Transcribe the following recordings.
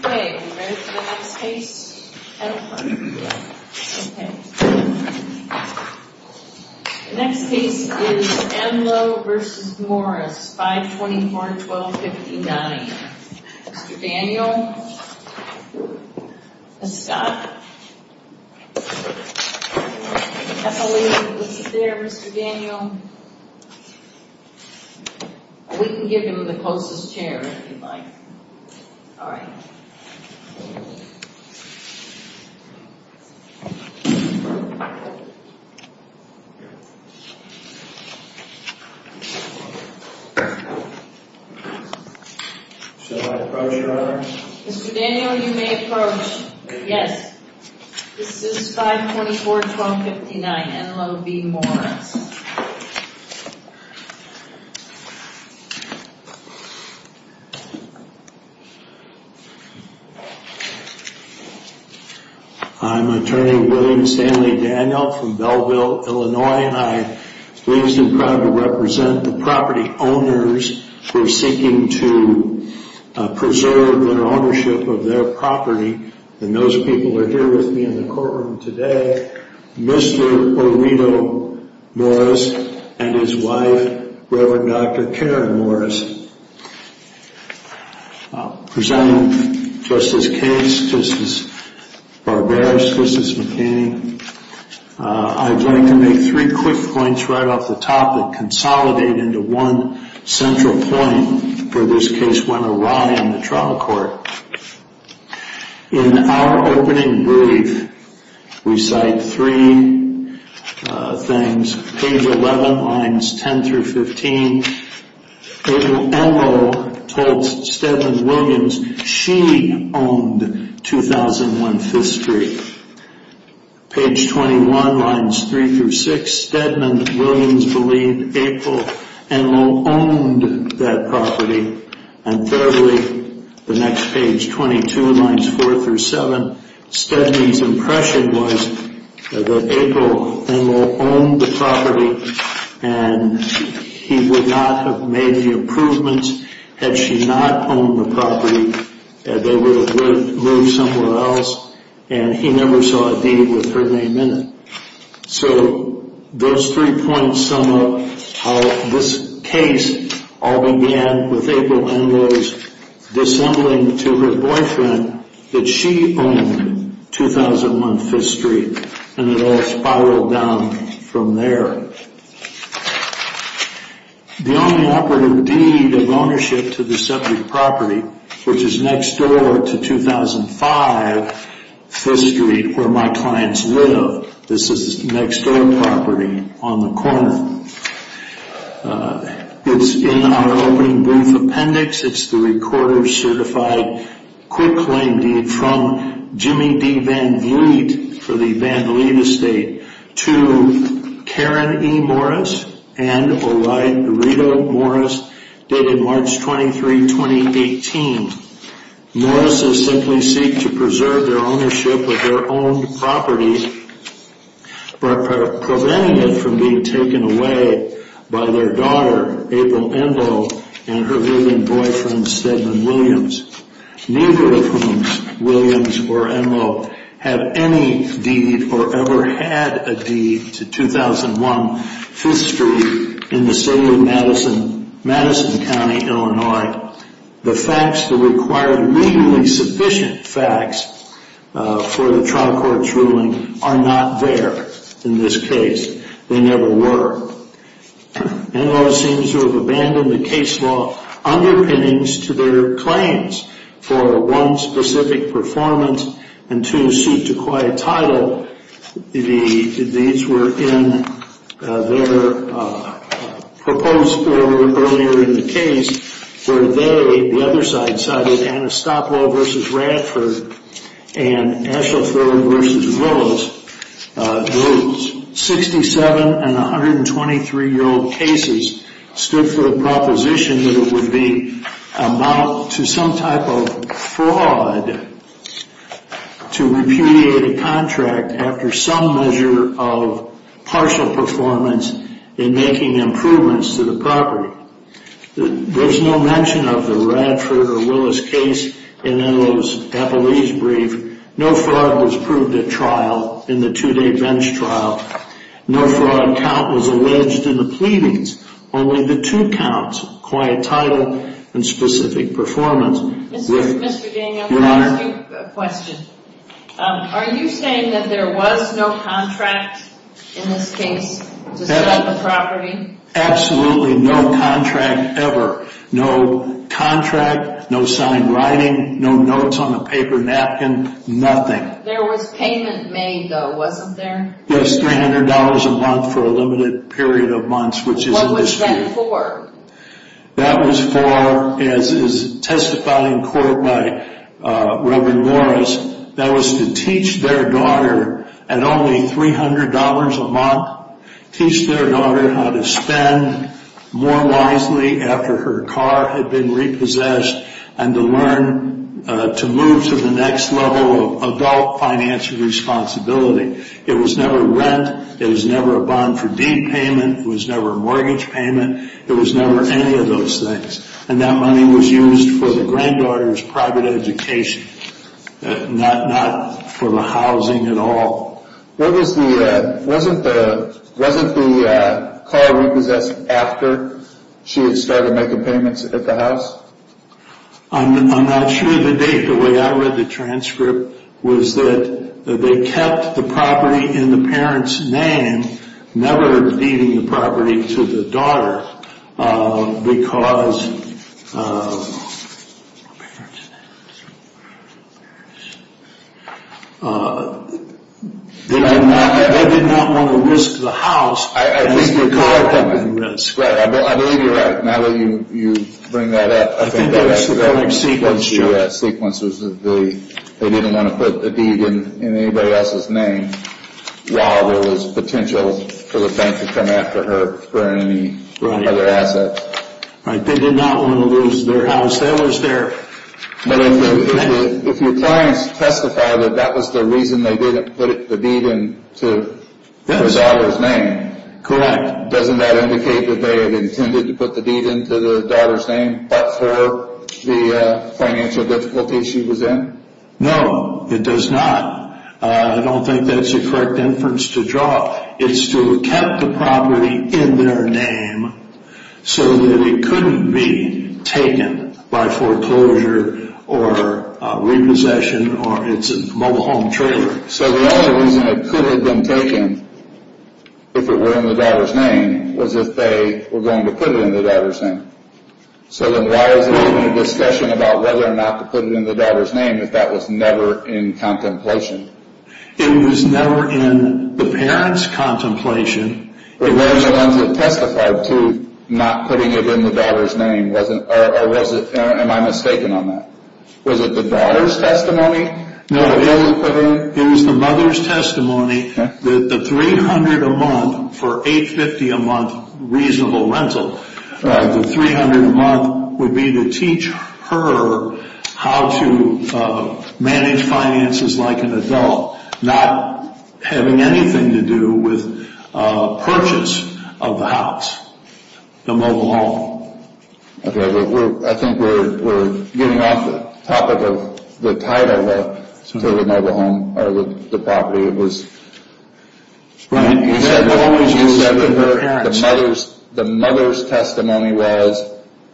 The next case is Enlow v. Morris, 524-1259, Mr. Daniel, Ms. Scott, Ms. Epley, Mr. Daniel, Mr. Scott, Ms. Epley, Mr. Daniel, Ms. Epley, Mr. Scott, Ms. Epley, Mr. Scott, Ms. Epley, Mr. Daniel, Ms. Epley, Mr. Scott, Ms. Epley, Mr. Scott, Ms. Epley, Mr. Scott, Ms. Epley, Morris and his wife, Reverend Dr. Karen Morris. Presenting Justice Case, Justice Barbera, Justice McKinney, I'd like to make three quick points right off the top that consolidate into one central point for this case went awry on the trial court. In our opening brief, we cite three things, page 11, lines 10-15, Enloe told Stedman-Williams she owned 2001 5th Street. Page 21, lines 3-6, Stedman-Williams believed April Enloe owned that property and thirdly, the next page, 22, lines 4-7, Stedman's impression was that April Enloe owned the property and he would not have made the improvements had she not owned the property, they would have moved somewhere else and he never saw a deed with her name in it. So those three points sum up how this case all began with April Enloe's dissembling to her boyfriend that she owned 2001 5th Street and it all spiraled down from there. The only operative deed of ownership to the subject property, which is next door to 2005 5th Street where my clients live, this is the next door property on the corner. It's in our opening brief appendix, it's the recorder certified quick claim deed from Jimmy D. Van Vliet for the Van Vliet Estate to Karen E. Morris and Orito Morris dated March 23, 2018. Morris' simply seek to preserve their ownership of their own property by preventing it from being taken away by their daughter April Enloe and her living boyfriend Stedman-Williams, neither of whom, Williams or Enloe, had any deed or ever had a deed to 2001 5th Street in the city of Madison, Madison County, Illinois. The facts that require legally sufficient facts for the trial court's ruling are not there in this case. They never were. Enloe seems to have abandoned the case law underpinnings to their claims for one specific performance and two suit to quiet title. These were in their proposed form earlier in the case where they, the other side cited Anastopolo v. Radford and Ashlethorne v. Willis, 67 and 123 year old cases stood for the proposition that it would amount to some type of fraud to repudiate a contract after some measure of partial performance in making improvements to the property. There's no mention of the Radford or Willis case in Enloe's appellee's brief. No fraud was proved at trial in the two day bench trial. No fraud count was alleged in the pleadings. Only the two counts, quiet title and specific performance. Mr. Daniel, can I ask you a question? Are you saying that there was no contract in this case to sell the property? Absolutely no contract ever. No contract, no signed writing, no notes on the paper napkin, nothing. There was payment made though, wasn't there? Yes, $300 a month for a limited period of months. What was that for? That was for, as is testified in court by Reverend Morris, that was to teach their daughter at only $300 a month, teach their daughter how to spend more wisely after her car had been repossessed and to learn to move to the next level of adult financial responsibility. It was never rent, it was never a bond for deed payment, it was never a mortgage payment, it was never any of those things. And that money was used for the granddaughter's private education, not for the housing at all. Wasn't the car repossessed after she had started making payments at the house? I'm not sure of the date. The way I read the transcript was that they kept the property in the parent's name, never deeding the property to the daughter because they did not want to risk the house. I believe you're right. Matt, will you bring that up? I think that was the correct sequence, too. The sequence was that they didn't want to put the deed in anybody else's name while there was potential for the bank to come after her for any other assets. Right, they did not want to lose their house. If your clients testify that that was the reason they didn't put the deed in the daughter's name, correct, doesn't that indicate that they had intended to put the deed into the daughter's name but for the financial difficulties she was in? No, it does not. I don't think that's a correct inference to draw. It's to have kept the property in their name so that it couldn't be taken by foreclosure or repossession or it's a mobile home trailer. So the only reason it could have been taken if it were in the daughter's name was if they were going to put it in the daughter's name. So then why was there any discussion about whether or not to put it in the daughter's name if that was never in contemplation? It was never in the parent's contemplation. But weren't the ones that testified to not putting it in the daughter's name? Or am I mistaken on that? Was it the daughter's testimony? No, it was the mother's testimony that the $300 a month for $850 a month reasonable rental, the $300 a month would be to teach her how to manage finances like an adult, not having anything to do with purchase of the house, the mobile home. I think we're getting off the topic of the title to the mobile home or the property. It was the mother's testimony was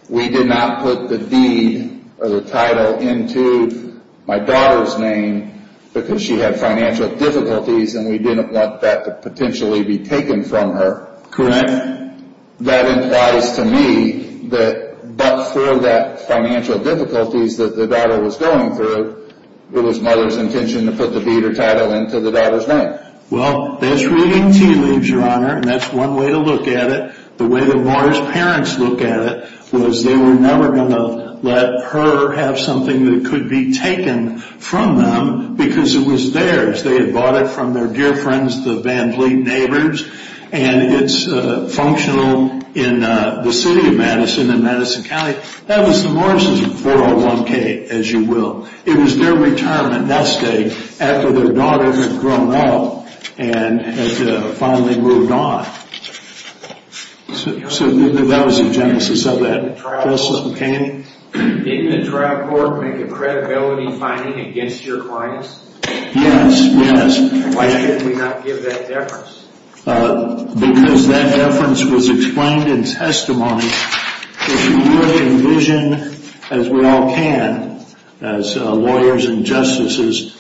we did not put the deed or the title into my daughter's name because she had financial difficulties and we didn't want that to potentially be taken from her. Correct. And that implies to me that but for that financial difficulties that the daughter was going through, it was mother's intention to put the deed or title into the daughter's name. Well, that's reading tea leaves, Your Honor, and that's one way to look at it. The way the Morris parents look at it was they were never going to let her have something that could be taken from them because it was theirs. They had bought it from their dear friends, the Van Vliet neighbors, and it's functional in the city of Madison and Madison County. That was the Morris's 401k, as you will. It was their retirement that day after their daughter had grown up and had finally moved on. So that was the genesis of that. Justice McCain? Didn't the trial court make a credibility finding against your clients? Yes, yes. Why did we not give that deference? Because that deference was explained in testimony. If you would envision, as we all can, as lawyers and justices,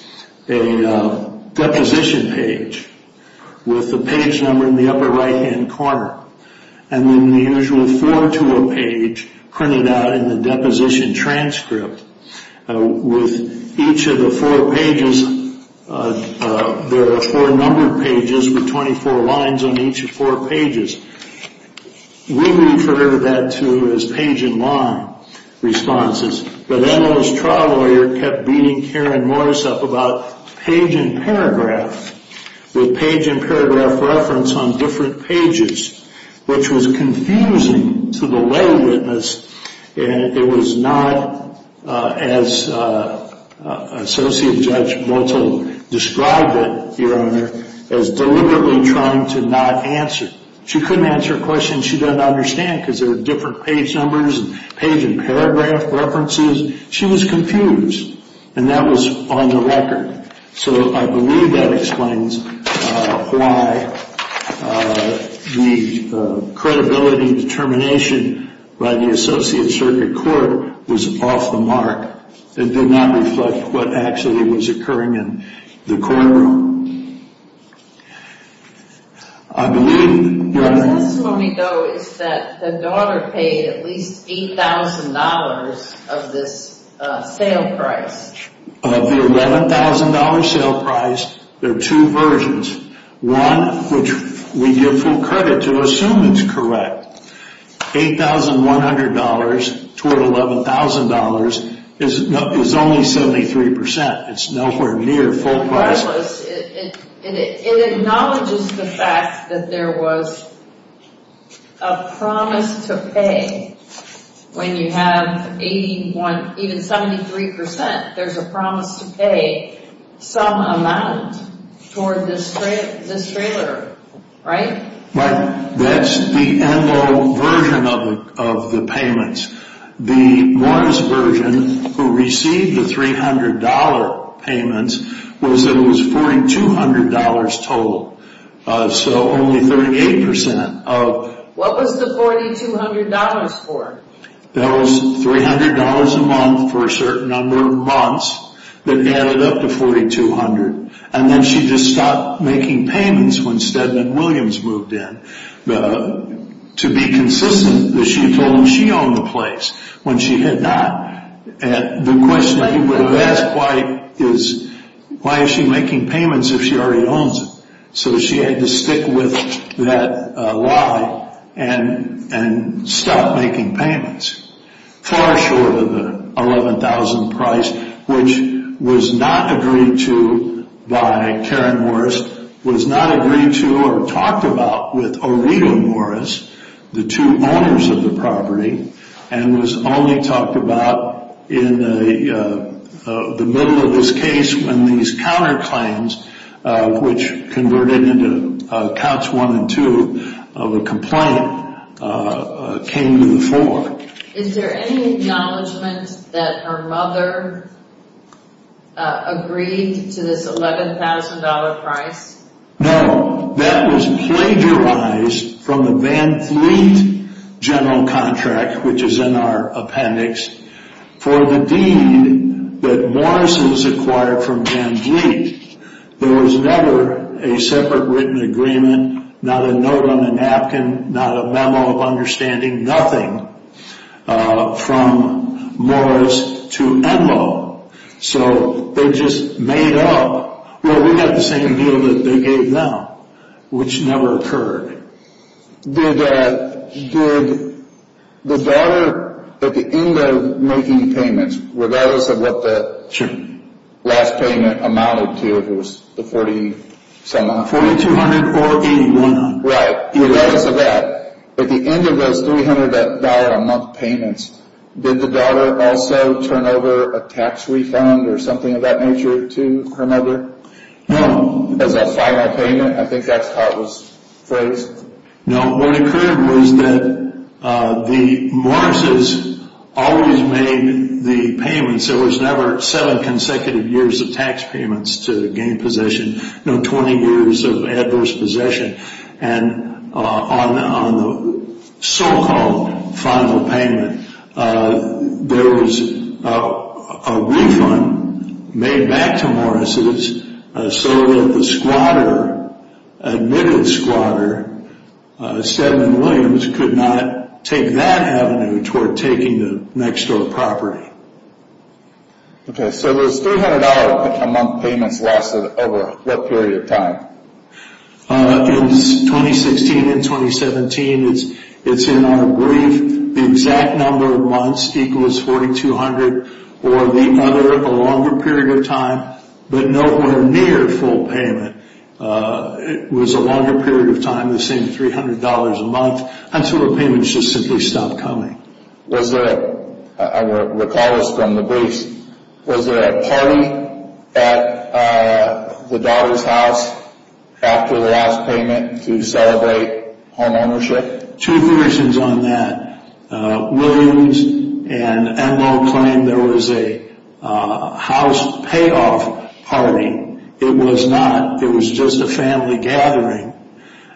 a deposition page with the page number in the upper right-hand corner and then the usual four-to-a-page printed out in the deposition transcript with each of the four pages. There are four numbered pages with 24 lines on each of four pages. We refer to that, too, as page-in-line responses. But then those trial lawyers kept beating Karen Morris up about page-in-paragraph with page-in-paragraph reference on different pages, which was confusing to the lay witness. It was not, as Associate Judge Motel described it, Your Honor, as deliberately trying to not answer. She couldn't answer a question she doesn't understand because there were different page numbers and page-in-paragraph references. She was confused, and that was on the record. So I believe that explains why the credibility determination by the Associate Circuit Court was off the mark. It did not reflect what actually was occurring in the courtroom. I believe, Your Honor. The testimony, though, is that the daughter paid at least $8,000 of this sale price. Of the $11,000 sale price, there are two versions. One, which we give full credit to, assume it's correct. $8,100 toward $11,000 is only 73%. It's nowhere near full price. Regardless, it acknowledges the fact that there was a promise to pay when you have 81, even 73%, there's a promise to pay some amount toward this trailer, right? Right. That's the Enloe version of the payments. The Morris version, who received the $300 payments, was that it was $4,200 total. So only 38% of... What was the $4,200 for? That was $300 a month for a certain number of months that added up to $4,200. And then she just stopped making payments when Stedman-Williams moved in. To be consistent, she told him she owned the place when she did that. The question people have asked is, why is she making payments if she already owns it? So she had to stick with that lie and stop making payments. Far short of the $11,000 price, which was not agreed to by Karen Morris, was not agreed to or talked about with Orito Morris, the two owners of the property, and was only talked about in the middle of this case when these counterclaims, which converted into Cots 1 and 2 of a complaint, came to the fore. Is there any acknowledgment that her mother agreed to this $11,000 price? No, that was plagiarized from the Van Vliet general contract, which is in our appendix, for the deed that Morris was acquired from Van Vliet. There was never a separate written agreement, not a note on a napkin, not a memo of understanding, nothing from Morris to Enloe. So they just made up, well, we got the same deal that they gave them, which never occurred. Did the daughter, at the end of making payments, regardless of what the last payment amounted to, if it was the $4,200 or $8,100, regardless of that, at the end of those $300 a month payments, did the daughter also turn over a tax refund or something of that nature to her mother? No. As a final payment? I think that's how it was phrased. No, what occurred was that the Morrises always made the payments. There was never seven consecutive years of tax payments to gain possession, no 20 years of adverse possession. And on the so-called final payment, there was a refund made back to Morrises so that the squatter, admitted squatter, Stedman Williams, could not take that avenue toward taking the next-door property. Okay, so those $300 a month payments lasted over what period of time? In 2016 and 2017, it's in our brief, the exact number of months equals $4,200 or the other, a longer period of time, but nowhere near full payment. It was a longer period of time, the same $300 a month, until the payments just simply stopped coming. I recall this from the briefs. Was there a party at the daughter's house after the last payment to celebrate homeownership? Two versions on that. Williams and Enloe claimed there was a house payoff party. It was not. It was just a family gathering.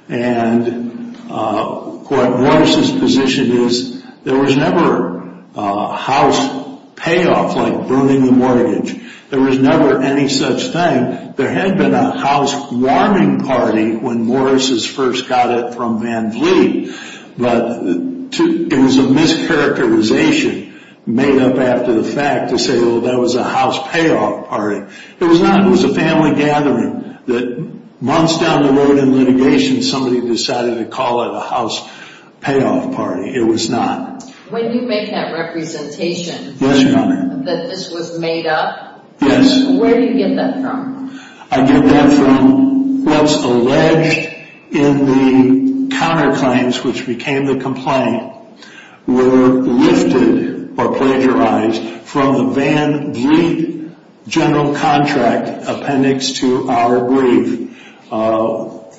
And what Morrises' position is, there was never a house payoff like burning the mortgage. There was never any such thing. There had been a house warming party when Morrises first got it from Van Vliet, but it was a mischaracterization made up after the fact to say, well, that was a house payoff party. It was not. It was a family gathering. Months down the road in litigation, somebody decided to call it a house payoff party. It was not. When you make that representation that this was made up, where do you get that from? I get that from what's alleged in the counterclaims, which became the complaint, were lifted or plagiarized from the Van Vliet general contract appendix to our brief.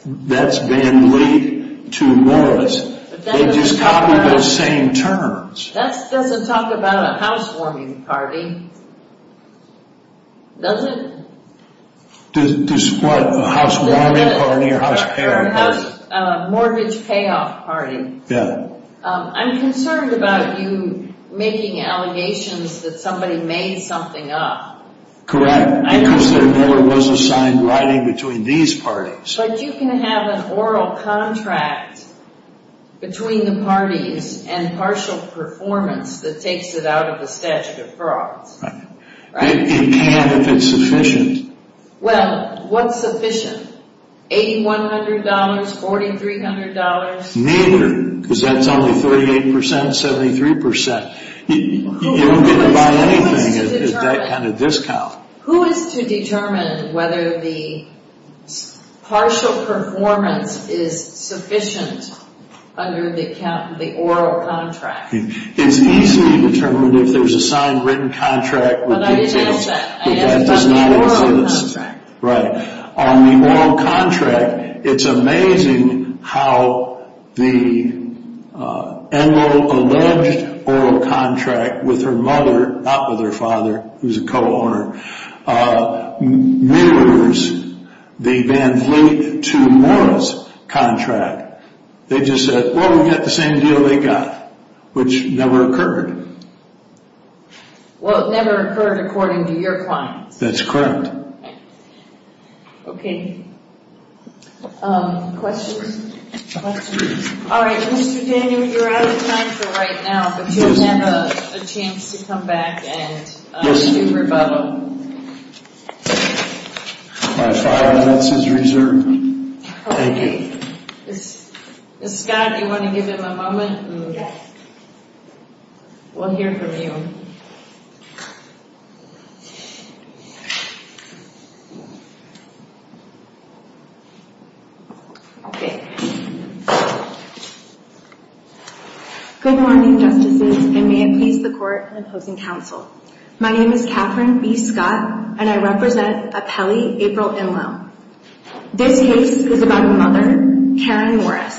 That's Van Vliet to Morris. They just copied those same terms. That doesn't talk about a house warming party, does it? Does what? A house warming party or a house payoff party? A mortgage payoff party. I'm concerned about you making allegations that somebody made something up. Correct. I consider Miller was assigned writing between these parties. But you can have an oral contract between the parties and partial performance that takes it out of the statute of frauds. It can if it's sufficient. Well, what's sufficient? $8,100? $4,300? Neither, because that's only 38%, 73%. You don't get to buy anything at that kind of discount. Who is to determine whether the partial performance is sufficient under the oral contract? It's easy to determine if there's a signed written contract. But I didn't ask that. I asked about the oral contract. Right. On the oral contract, it's amazing how the enrolled alleged oral contract with her mother, not with her father, who's a co-owner, mirrors the Van Vliet to Morris contract. They just said, well, we got the same deal they got, which never occurred. Well, it never occurred according to your client. That's correct. Okay. Questions? Questions? All right, Mr. Daniel, you're out of time for right now, but you'll have a chance to come back and do rebuttal. All right, that's his reserve. Thank you. Ms. Scott, do you want to give him a moment? Yes. We'll hear from you. Good morning, Justices, and may it please the Court in opposing counsel. My name is Catherine B. Scott, and I represent Apelli April Inlow. This case is about a mother, Karen Morris,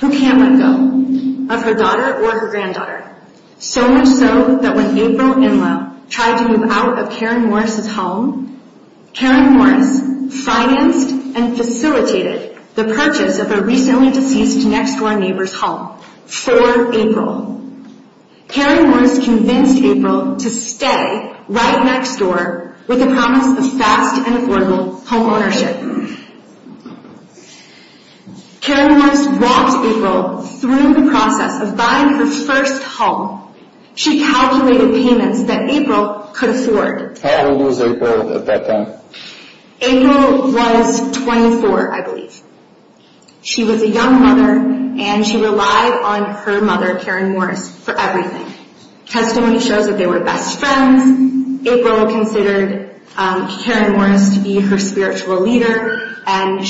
who can't let go of her daughter or her granddaughter, so much so that when April Inlow tried to move out of Karen Morris' home, Karen Morris financed and facilitated the purchase of a recently deceased next-door neighbor's home for April. Karen Morris convinced April to stay right next door with the promise of fast and affordable home ownership. Karen Morris walked April through the process of buying her first home. She calculated payments that April could afford. How old was April at that time? April was 24, I believe. She was a young mother, and she relied on her mother, Karen Morris, for everything. Testimony shows that they were best friends. April considered Karen Morris to be her spiritual leader, and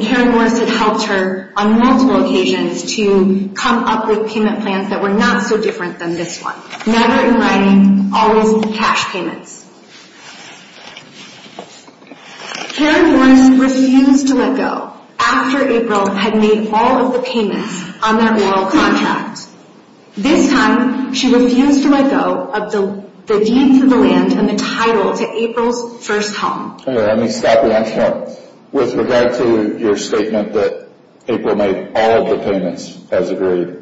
Karen Morris had helped her on multiple occasions to come up with payment plans that were not so different than this one. Never in writing, always cash payments. Karen Morris refused to let go after April had made all of the payments on their oral contract. This time, she refused to let go of the deed for the land and the title to April's first home. Okay, let me stop you there. With regard to your statement that April made all of the payments as agreed,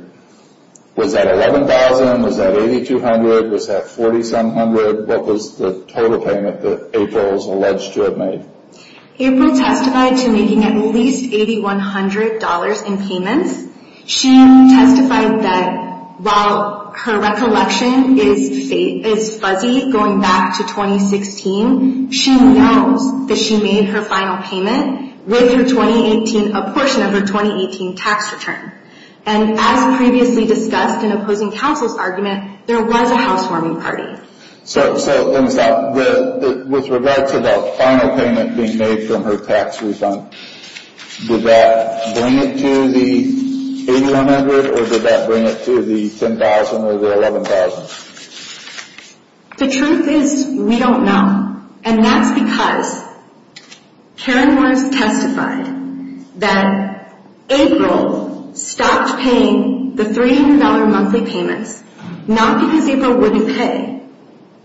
was that $11,000? Was that $8,200? Was that $4,700? In other words, what was the total payment that April is alleged to have made? April testified to making at least $8,100 in payments. She testified that while her recollection is fuzzy going back to 2016, she knows that she made her final payment with a portion of her 2018 tax return. And as previously discussed in opposing counsel's argument, there was a housewarming party. So, let me stop. With regard to the final payment being made from her tax refund, did that bring it to the $8,100 or did that bring it to the $10,000 or the $11,000? The truth is we don't know. And that's because Karen Morris testified that April stopped paying the $300 monthly payments not because April wouldn't pay,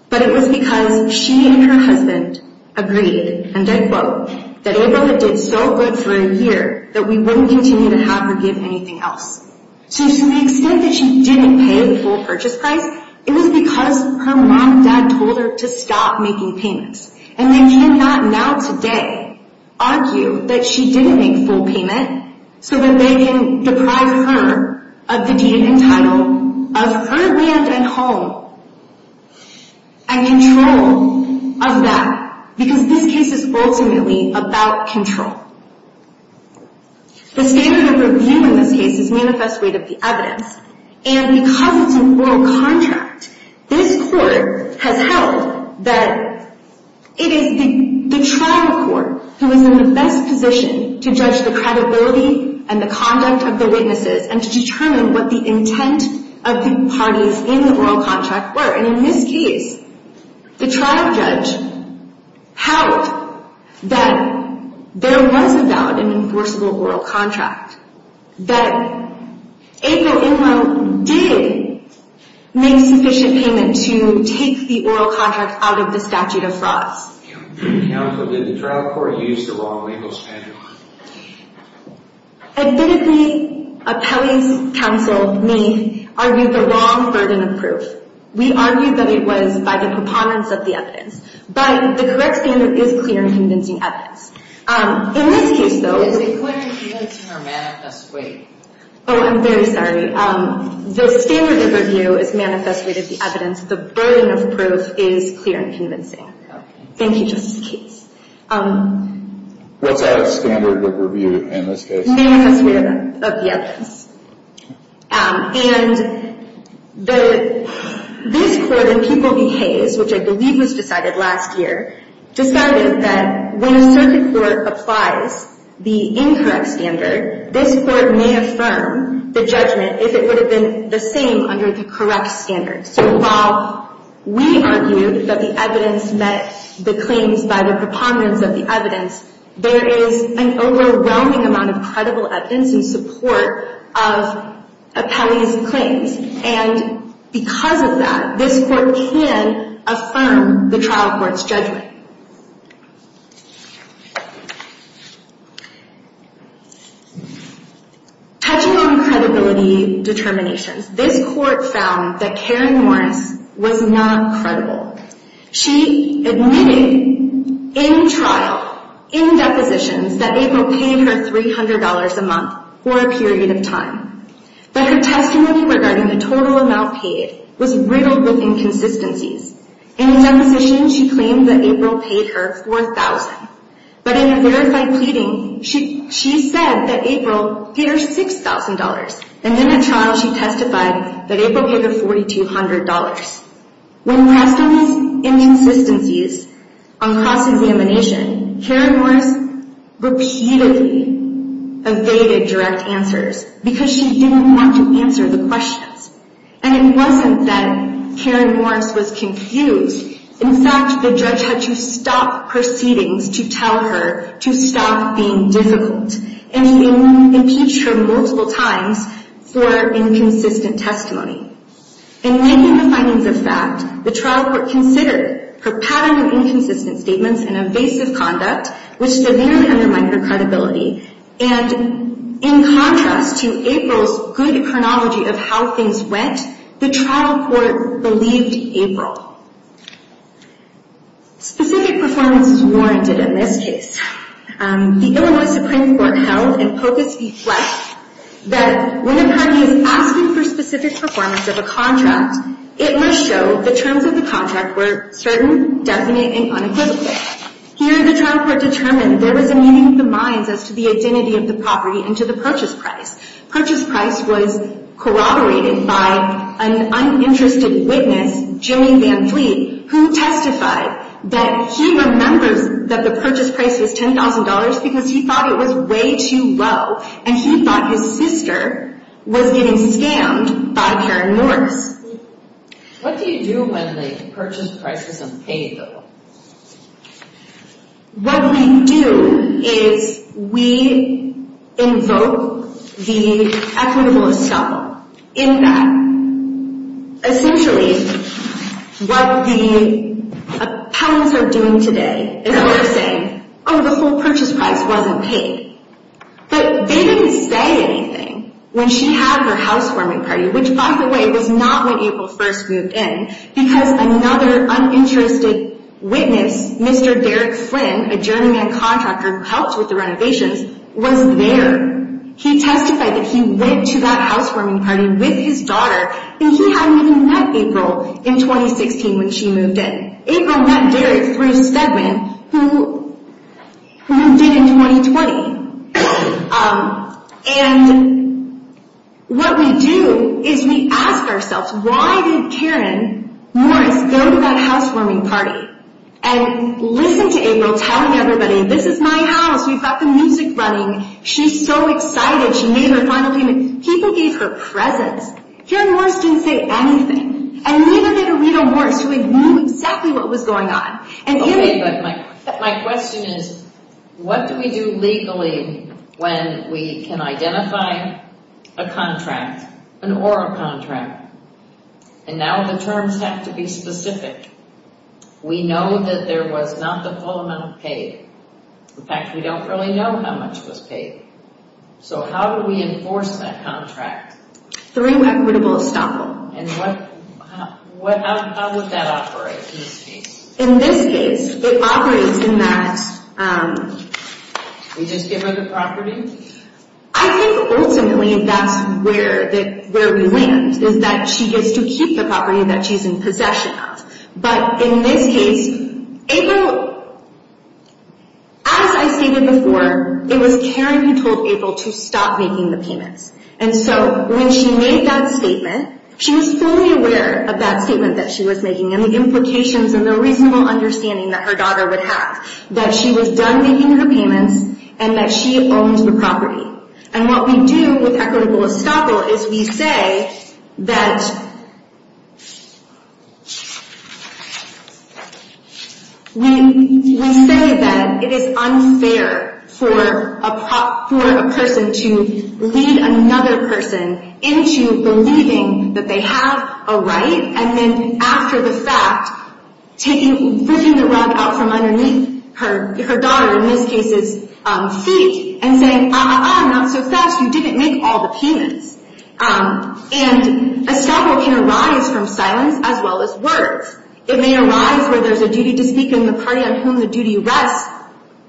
but it was because she and her husband agreed, and I quote, that April had did so good for a year that we wouldn't continue to have her give anything else. So, to the extent that she didn't pay the full purchase price, it was because her mom and dad told her to stop making payments. And they cannot now today argue that she didn't make full payment so that they can deprive her of the deed and title of her land and home and control of that. Because this case is ultimately about control. The standard of review in this case is manifest rate of the evidence. And because it's an oral contract, this court has held that it is the trial court who is in the best position to judge the credibility and the conduct of the witnesses and to determine what the intent of the parties in the oral contract were. And in this case, the trial judge held that there was a valid and enforceable oral contract, that April Inland did make sufficient payment to take the oral contract out of the statute of frauds. Counsel, did the trial court use the wrong legal standard? Admittedly, appellee's counsel, me, argued the wrong burden of proof. We argued that it was by the components of the evidence. But the correct standard is clear and convincing evidence. In this case, though, Is it clear and convincing or manifest weight? Oh, I'm very sorry. The standard of review is manifest weight of the evidence. The burden of proof is clear and convincing. Thank you, Justice Cates. What's that standard of review in this case? Manifest weight of the evidence. And this court in People v. Hayes, which I believe was decided last year, decided that when a circuit court applies the incorrect standard, this court may affirm the judgment if it would have been the same under the correct standard. So while we argued that the evidence met the claims by the components of the evidence, there is an overwhelming amount of credible evidence in support of appellee's claims. And because of that, this court can affirm the trial court's judgment. Touching on credibility determinations, this court found that Karen Morris was not credible. She admitted in trial, in depositions, that April paid her $300 a month for a period of time. But her testimony regarding the total amount paid was riddled with inconsistencies. In a deposition, she claimed that April paid her $4,000. But in a verified pleading, she said that April paid her $6,000. And in a trial, she testified that April paid her $4,200. When asked of these inconsistencies on cross-examination, Karen Morris repeatedly evaded direct answers because she didn't want to answer the questions. And it wasn't that Karen Morris was confused. In fact, the judge had to stop proceedings to tell her to stop being difficult. And he impeached her multiple times for inconsistent testimony. In many of the findings of fact, the trial court considered her pattern of inconsistent statements and evasive conduct, which severely undermined her credibility. And in contrast to April's good chronology of how things went, the trial court believed April. Specific performance is warranted in this case. The Illinois Supreme Court held in Pocus v. Flex that when a party is asking for specific performance of a contract, it must show the terms of the contract were certain, definite, and unequivocal. Here, the trial court determined there was a meeting of the minds as to the identity of the property and to the purchase price. Purchase price was corroborated by an uninterested witness, Jimmy Van Fleet, who testified that he remembers that the purchase price was $10,000 because he thought it was way too low, and he thought his sister was getting scammed by Karen Morris. What do you do when the purchase price is unpaid, though? What we do is we invoke the equitable estoppel in that. Essentially, what the appellants are doing today is they're saying, oh, the full purchase price wasn't paid. But they didn't say anything when she had her housewarming party, which, by the way, was not when April first moved in, because another uninterested witness, Mr. Derek Flynn, a journeyman contractor who helped with the renovations, was there. He testified that he went to that housewarming party with his daughter, and he hadn't even met April in 2016 when she moved in. April met Derek through Stedman, who moved in in 2020. And what we do is we ask ourselves, why did Karen Morris go to that housewarming party? And listen to April telling everybody, this is my house. We've got the music running. She's so excited. She made her final payment. People gave her presents. Karen Morris didn't say anything, and neither did Aretha Morris, who knew exactly what was going on. Okay, but my question is, what do we do legally when we can identify a contract, an oral contract? And now the terms have to be specific. We know that there was not the full amount paid. In fact, we don't really know how much was paid. So how do we enforce that contract? Through equitable estoppel. And how would that operate in this case? In this case, it operates in that... We just give her the property? I think, ultimately, that's where we land, is that she gets to keep the property that she's in possession of. But in this case, April... As I stated before, it was Karen who told April to stop making the payments. And so when she made that statement, she was fully aware of that statement that she was making, and the implications and the reasonable understanding that her daughter would have, that she was done making her payments, and that she owned the property. And what we do with equitable estoppel is we say that... We say that it is unfair for a person to lead another person into believing that they have a right, and then after the fact, taking... Taking the rug out from underneath her daughter, in this case's feet, and saying, uh-uh-uh, not so fast, you didn't make all the payments. And estoppel can arise from silence as well as words. It may arise where there's a duty to speak and the party on whom the duty rests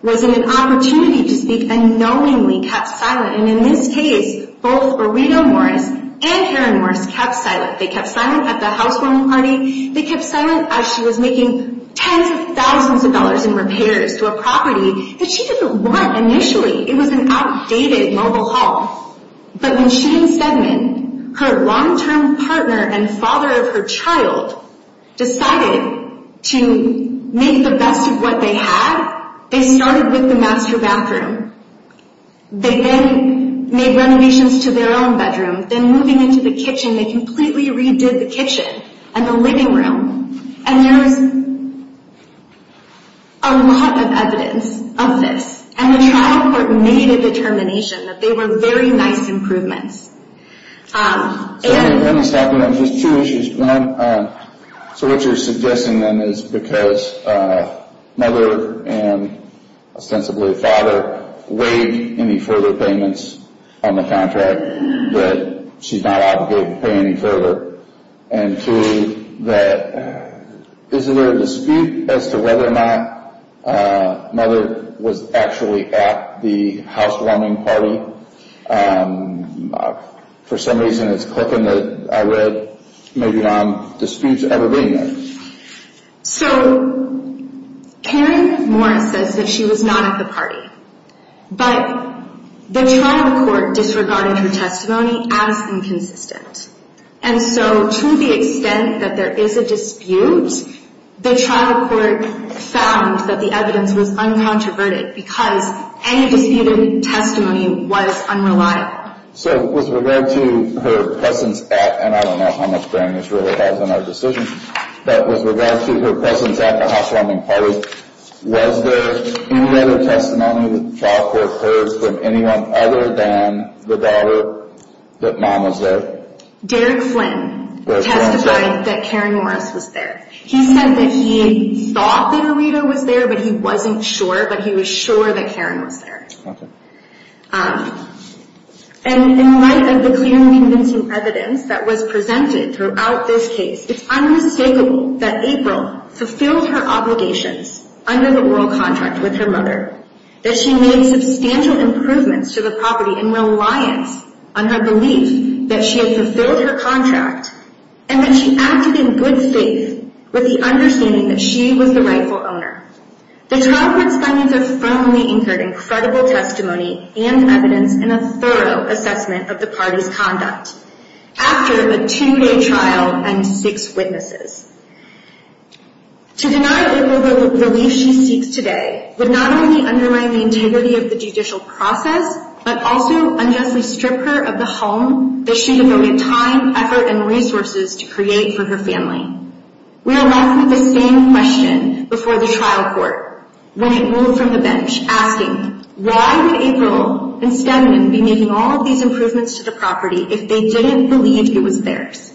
was in an opportunity to speak and knowingly kept silent. And in this case, both Orito Morris and Karen Morris kept silent. They kept silent at the housewarming party. They kept silent as she was making tens of thousands of dollars in repairs to a property that she didn't want initially. It was an outdated mobile home. But when Shane Stedman, her long-term partner and father of her child, decided to make the best of what they had, they started with the master bathroom. They then made renovations to their own bedroom. Then moving into the kitchen, they completely redid the kitchen. And the living room. And there's a lot of evidence of this. And the trial court made a determination that they were very nice improvements. So let me stop you there. Just two issues. One, so what you're suggesting then is because mother and ostensibly father waived any further payments on the contract, that she's not obligated to pay any further. And two, is there a dispute as to whether or not mother was actually at the housewarming party? For some reason it's clicking that I read. Maybe not. Disputes ever been there. So Karen Morris says that she was not at the party. But the trial court disregarded her testimony as inconsistent. And so to the extent that there is a dispute, the trial court found that the evidence was uncontroverted because any disputed testimony was unreliable. So with regard to her presence at, and I don't know how much bearing this really has on our decision, but with regard to her presence at the housewarming party, was there any other testimony that the trial court heard from anyone other than the daughter that mom was there? Derrick Flynn testified that Karen Morris was there. He said that he thought that Rita was there, but he wasn't sure, but he was sure that Karen was there. Okay. And in light of the clear and convincing evidence that was presented throughout this case, it's unmistakable that April fulfilled her obligations under the oral contract with her mother, that she made substantial improvements to the property in reliance on her belief that she had fulfilled her contract, and that she acted in good faith with the understanding that she was the rightful owner. The trial court's findings are firmly anchored in credible testimony and evidence and a thorough assessment of the party's conduct. After a two-day trial and six witnesses. To deny April the relief she seeks today would not only undermine the integrity of the judicial process, but also unjustly strip her of the home that she devoted time, effort, and resources to create for her family. We are left with the same question before the trial court when it moved from the bench, asking, why would April and Stenman be making all of these improvements to the property if they didn't believe it was theirs?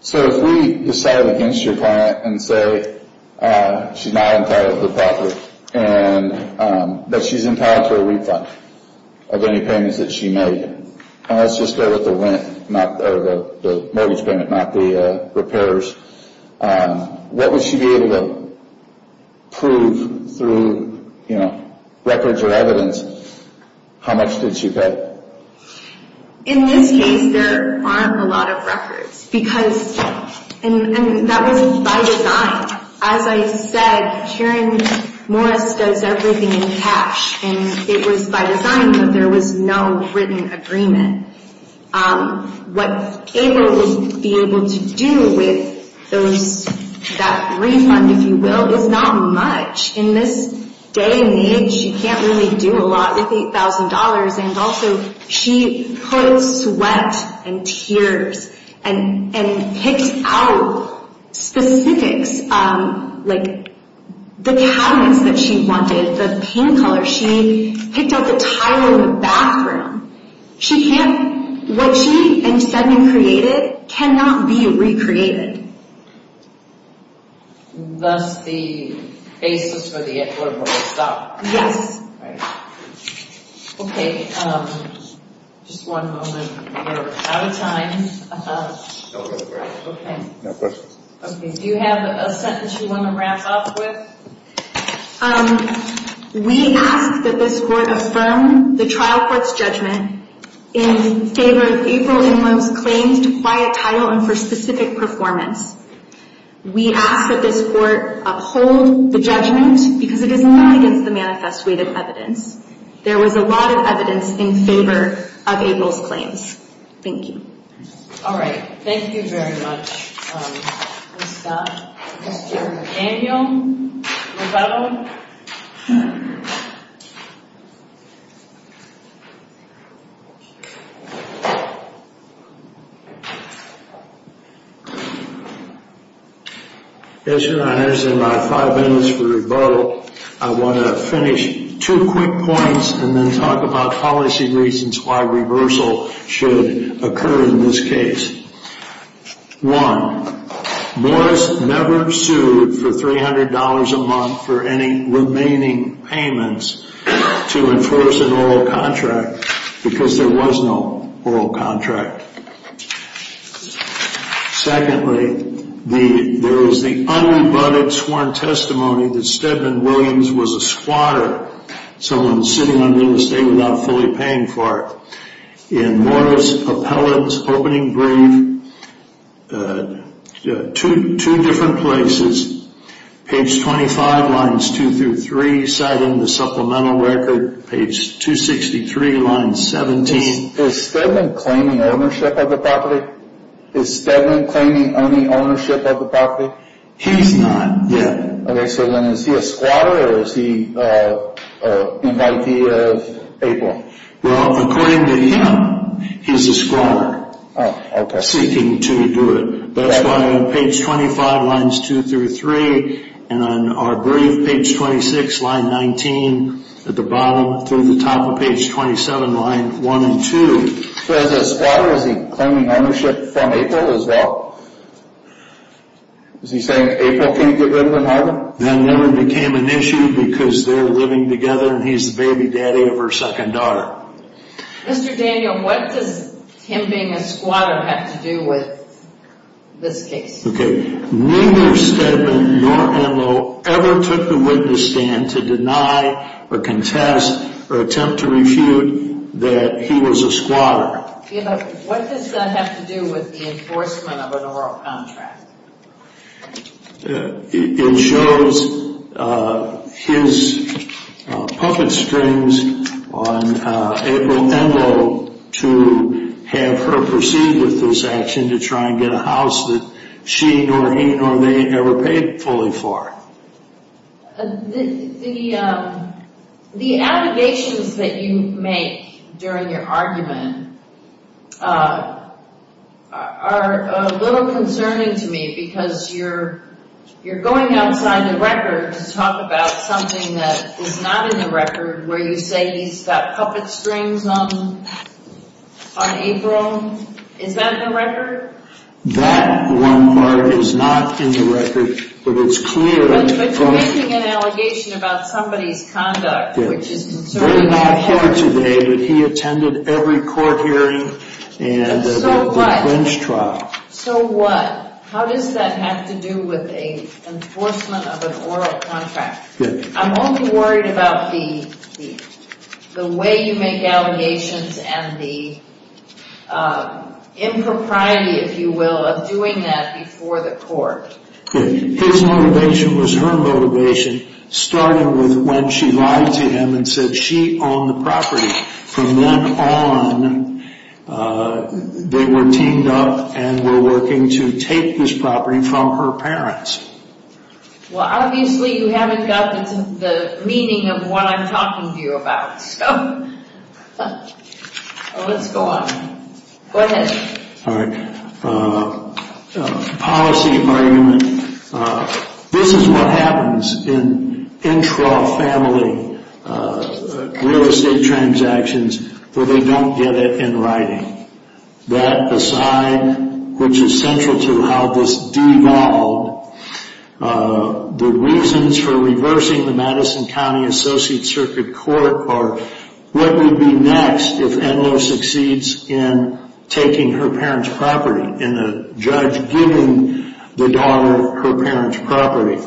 So if we decided against your client and say she's not entitled to the property, and that she's entitled to a refund of any payments that she made, and let's just start with the rent, or the mortgage payment, not the repairs, what would she be able to prove through records or evidence? How much did she pay? In this case, there aren't a lot of records, because, and that was by design. As I said, Karen Morris does everything in cash, and it was by design that there was no written agreement. What April would be able to do with that refund, if you will, is not much. In this day and age, you can't really do a lot with $8,000. And also, she put sweat and tears and picked out specifics, like the cabinets that she wanted, the paint color. She picked out the tile in the bathroom. She can't, what she and Stenman created cannot be recreated. Thus the basis for the equitable stop. Yes. Right. Okay, just one moment, we're out of time. No questions. Okay, do you have a sentence you want to wrap up with? We ask that this court affirm the trial court's judgment in favor of April Ingram's claims to quiet title and for specific performance. We ask that this court uphold the judgment, because it is not against the manifest weight of evidence. There was a lot of evidence in favor of April's claims. Thank you. All right, thank you very much, Ms. Scott. Mr. McDaniel, rebuttal. Yes, your honors, in my five minutes for rebuttal, I want to finish two quick points, and then talk about policy reasons why reversal should occur in this case. One, Morris never sued for $300 a month for any remaining payments to enforce an oral contract, because there was no oral contract. Secondly, there was the unrebutted sworn testimony that Stenman Williams was a squatter, someone sitting under the state without fully paying for it. In Morris' appellate's opening brief, two different places, page 25, lines 2 through 3, citing the supplemental record, page 263, line 17. Is Stenman claiming ownership of the property? Is Stenman claiming any ownership of the property? He's not yet. Okay, so then is he a squatter, or is he an invitee of April? Well, according to him, he's a squatter. Oh, okay. Seeking to do it. That's why on page 25, lines 2 through 3, and on our brief, page 26, line 19, at the bottom, through the top of page 27, line 1 and 2. So as a squatter, is he claiming ownership from April as well? Is he saying April can't get rid of him either? That never became an issue because they're living together and he's the baby daddy of her second daughter. Mr. Daniel, what does him being a squatter have to do with this case? Okay, neither Stenman nor Enloe ever took the witness stand to deny or contest or attempt to refute that he was a squatter. What does that have to do with the enforcement of an oral contract? It shows his puppet strings on April Enloe to have her proceed with this action to try and get a house that she nor he nor they ever paid fully for. The allegations that you make during your argument are a little concerning to me because you're going outside the record to talk about something that is not in the record where you say he's got puppet strings on April. Is that in the record? That one part is not in the record, but it's clear. But you're making an allegation about somebody's conduct. We're not here today, but he attended every court hearing and every defense trial. So what? How does that have to do with the enforcement of an oral contract? I'm only worried about the way you make allegations and the impropriety, if you will, of doing that before the court. His motivation was her motivation, starting with when she lied to him and said she owned the property. From then on, they were teamed up and were working to take this property from her parents. Well, obviously you haven't got the meaning of what I'm talking to you about. So let's go on. Go ahead. All right. Policy argument. This is what happens in intra-family real estate transactions where they don't get it in writing. That aside, which is central to how this devolved, the reasons for reversing the Madison County Associate Circuit Court are what would be next if Enloe succeeds in taking her parents' property and the judge giving the daughter her parents' property.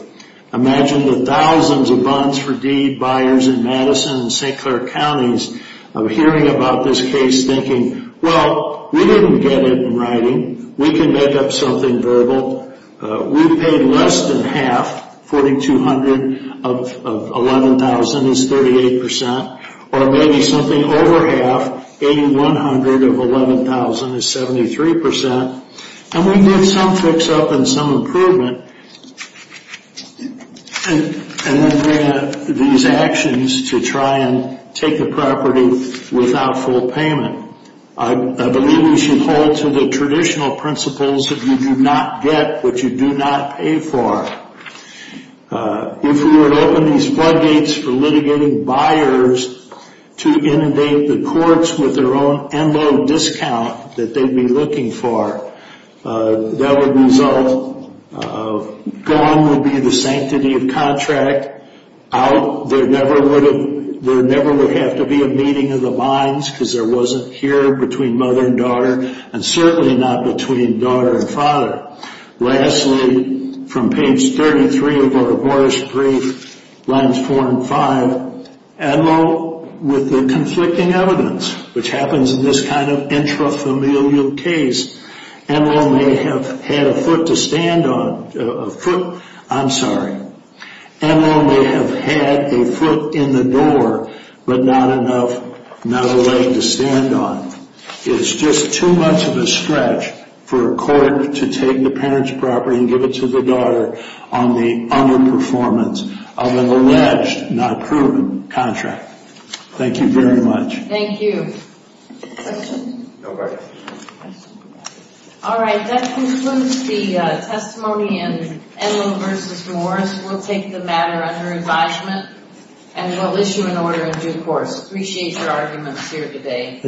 Imagine the thousands of bonds for deed buyers in Madison and St. Clair counties hearing about this case thinking, well, we didn't get it in writing. We can make up something verbal. We paid less than half. $4,200 of $11,000 is 38 percent. Or maybe something over half, $8,100 of $11,000 is 73 percent. And we did some fix-up and some improvement. And then we had these actions to try and take the property without full payment. I believe we should hold to the traditional principles that you do not get what you do not pay for. If we were to open these floodgates for litigating buyers to inundate the courts with their own Enloe discount that they'd be looking for, that would result, gone would be the sanctity of contract. Out, there never would have to be a meeting of the minds because there wasn't here between mother and daughter and certainly not between daughter and father. Lastly, from page 33 of our Boris brief, lines 4 and 5, Enloe, with the conflicting evidence, which happens in this kind of intrafamilial case, Enloe may have had a foot to stand on, a foot, I'm sorry, Enloe may have had a foot in the door, but not enough, not a leg to stand on. It's just too much of a stretch for a court to take the parent's property and give it to the daughter on the underperformance of an alleged, not proven, contract. Thank you very much. Thank you. Questions? No questions. All right, that concludes the testimony in Enloe v. Morris. We'll take the matter under advisement and we'll issue an order in due course. Appreciate your arguments here today.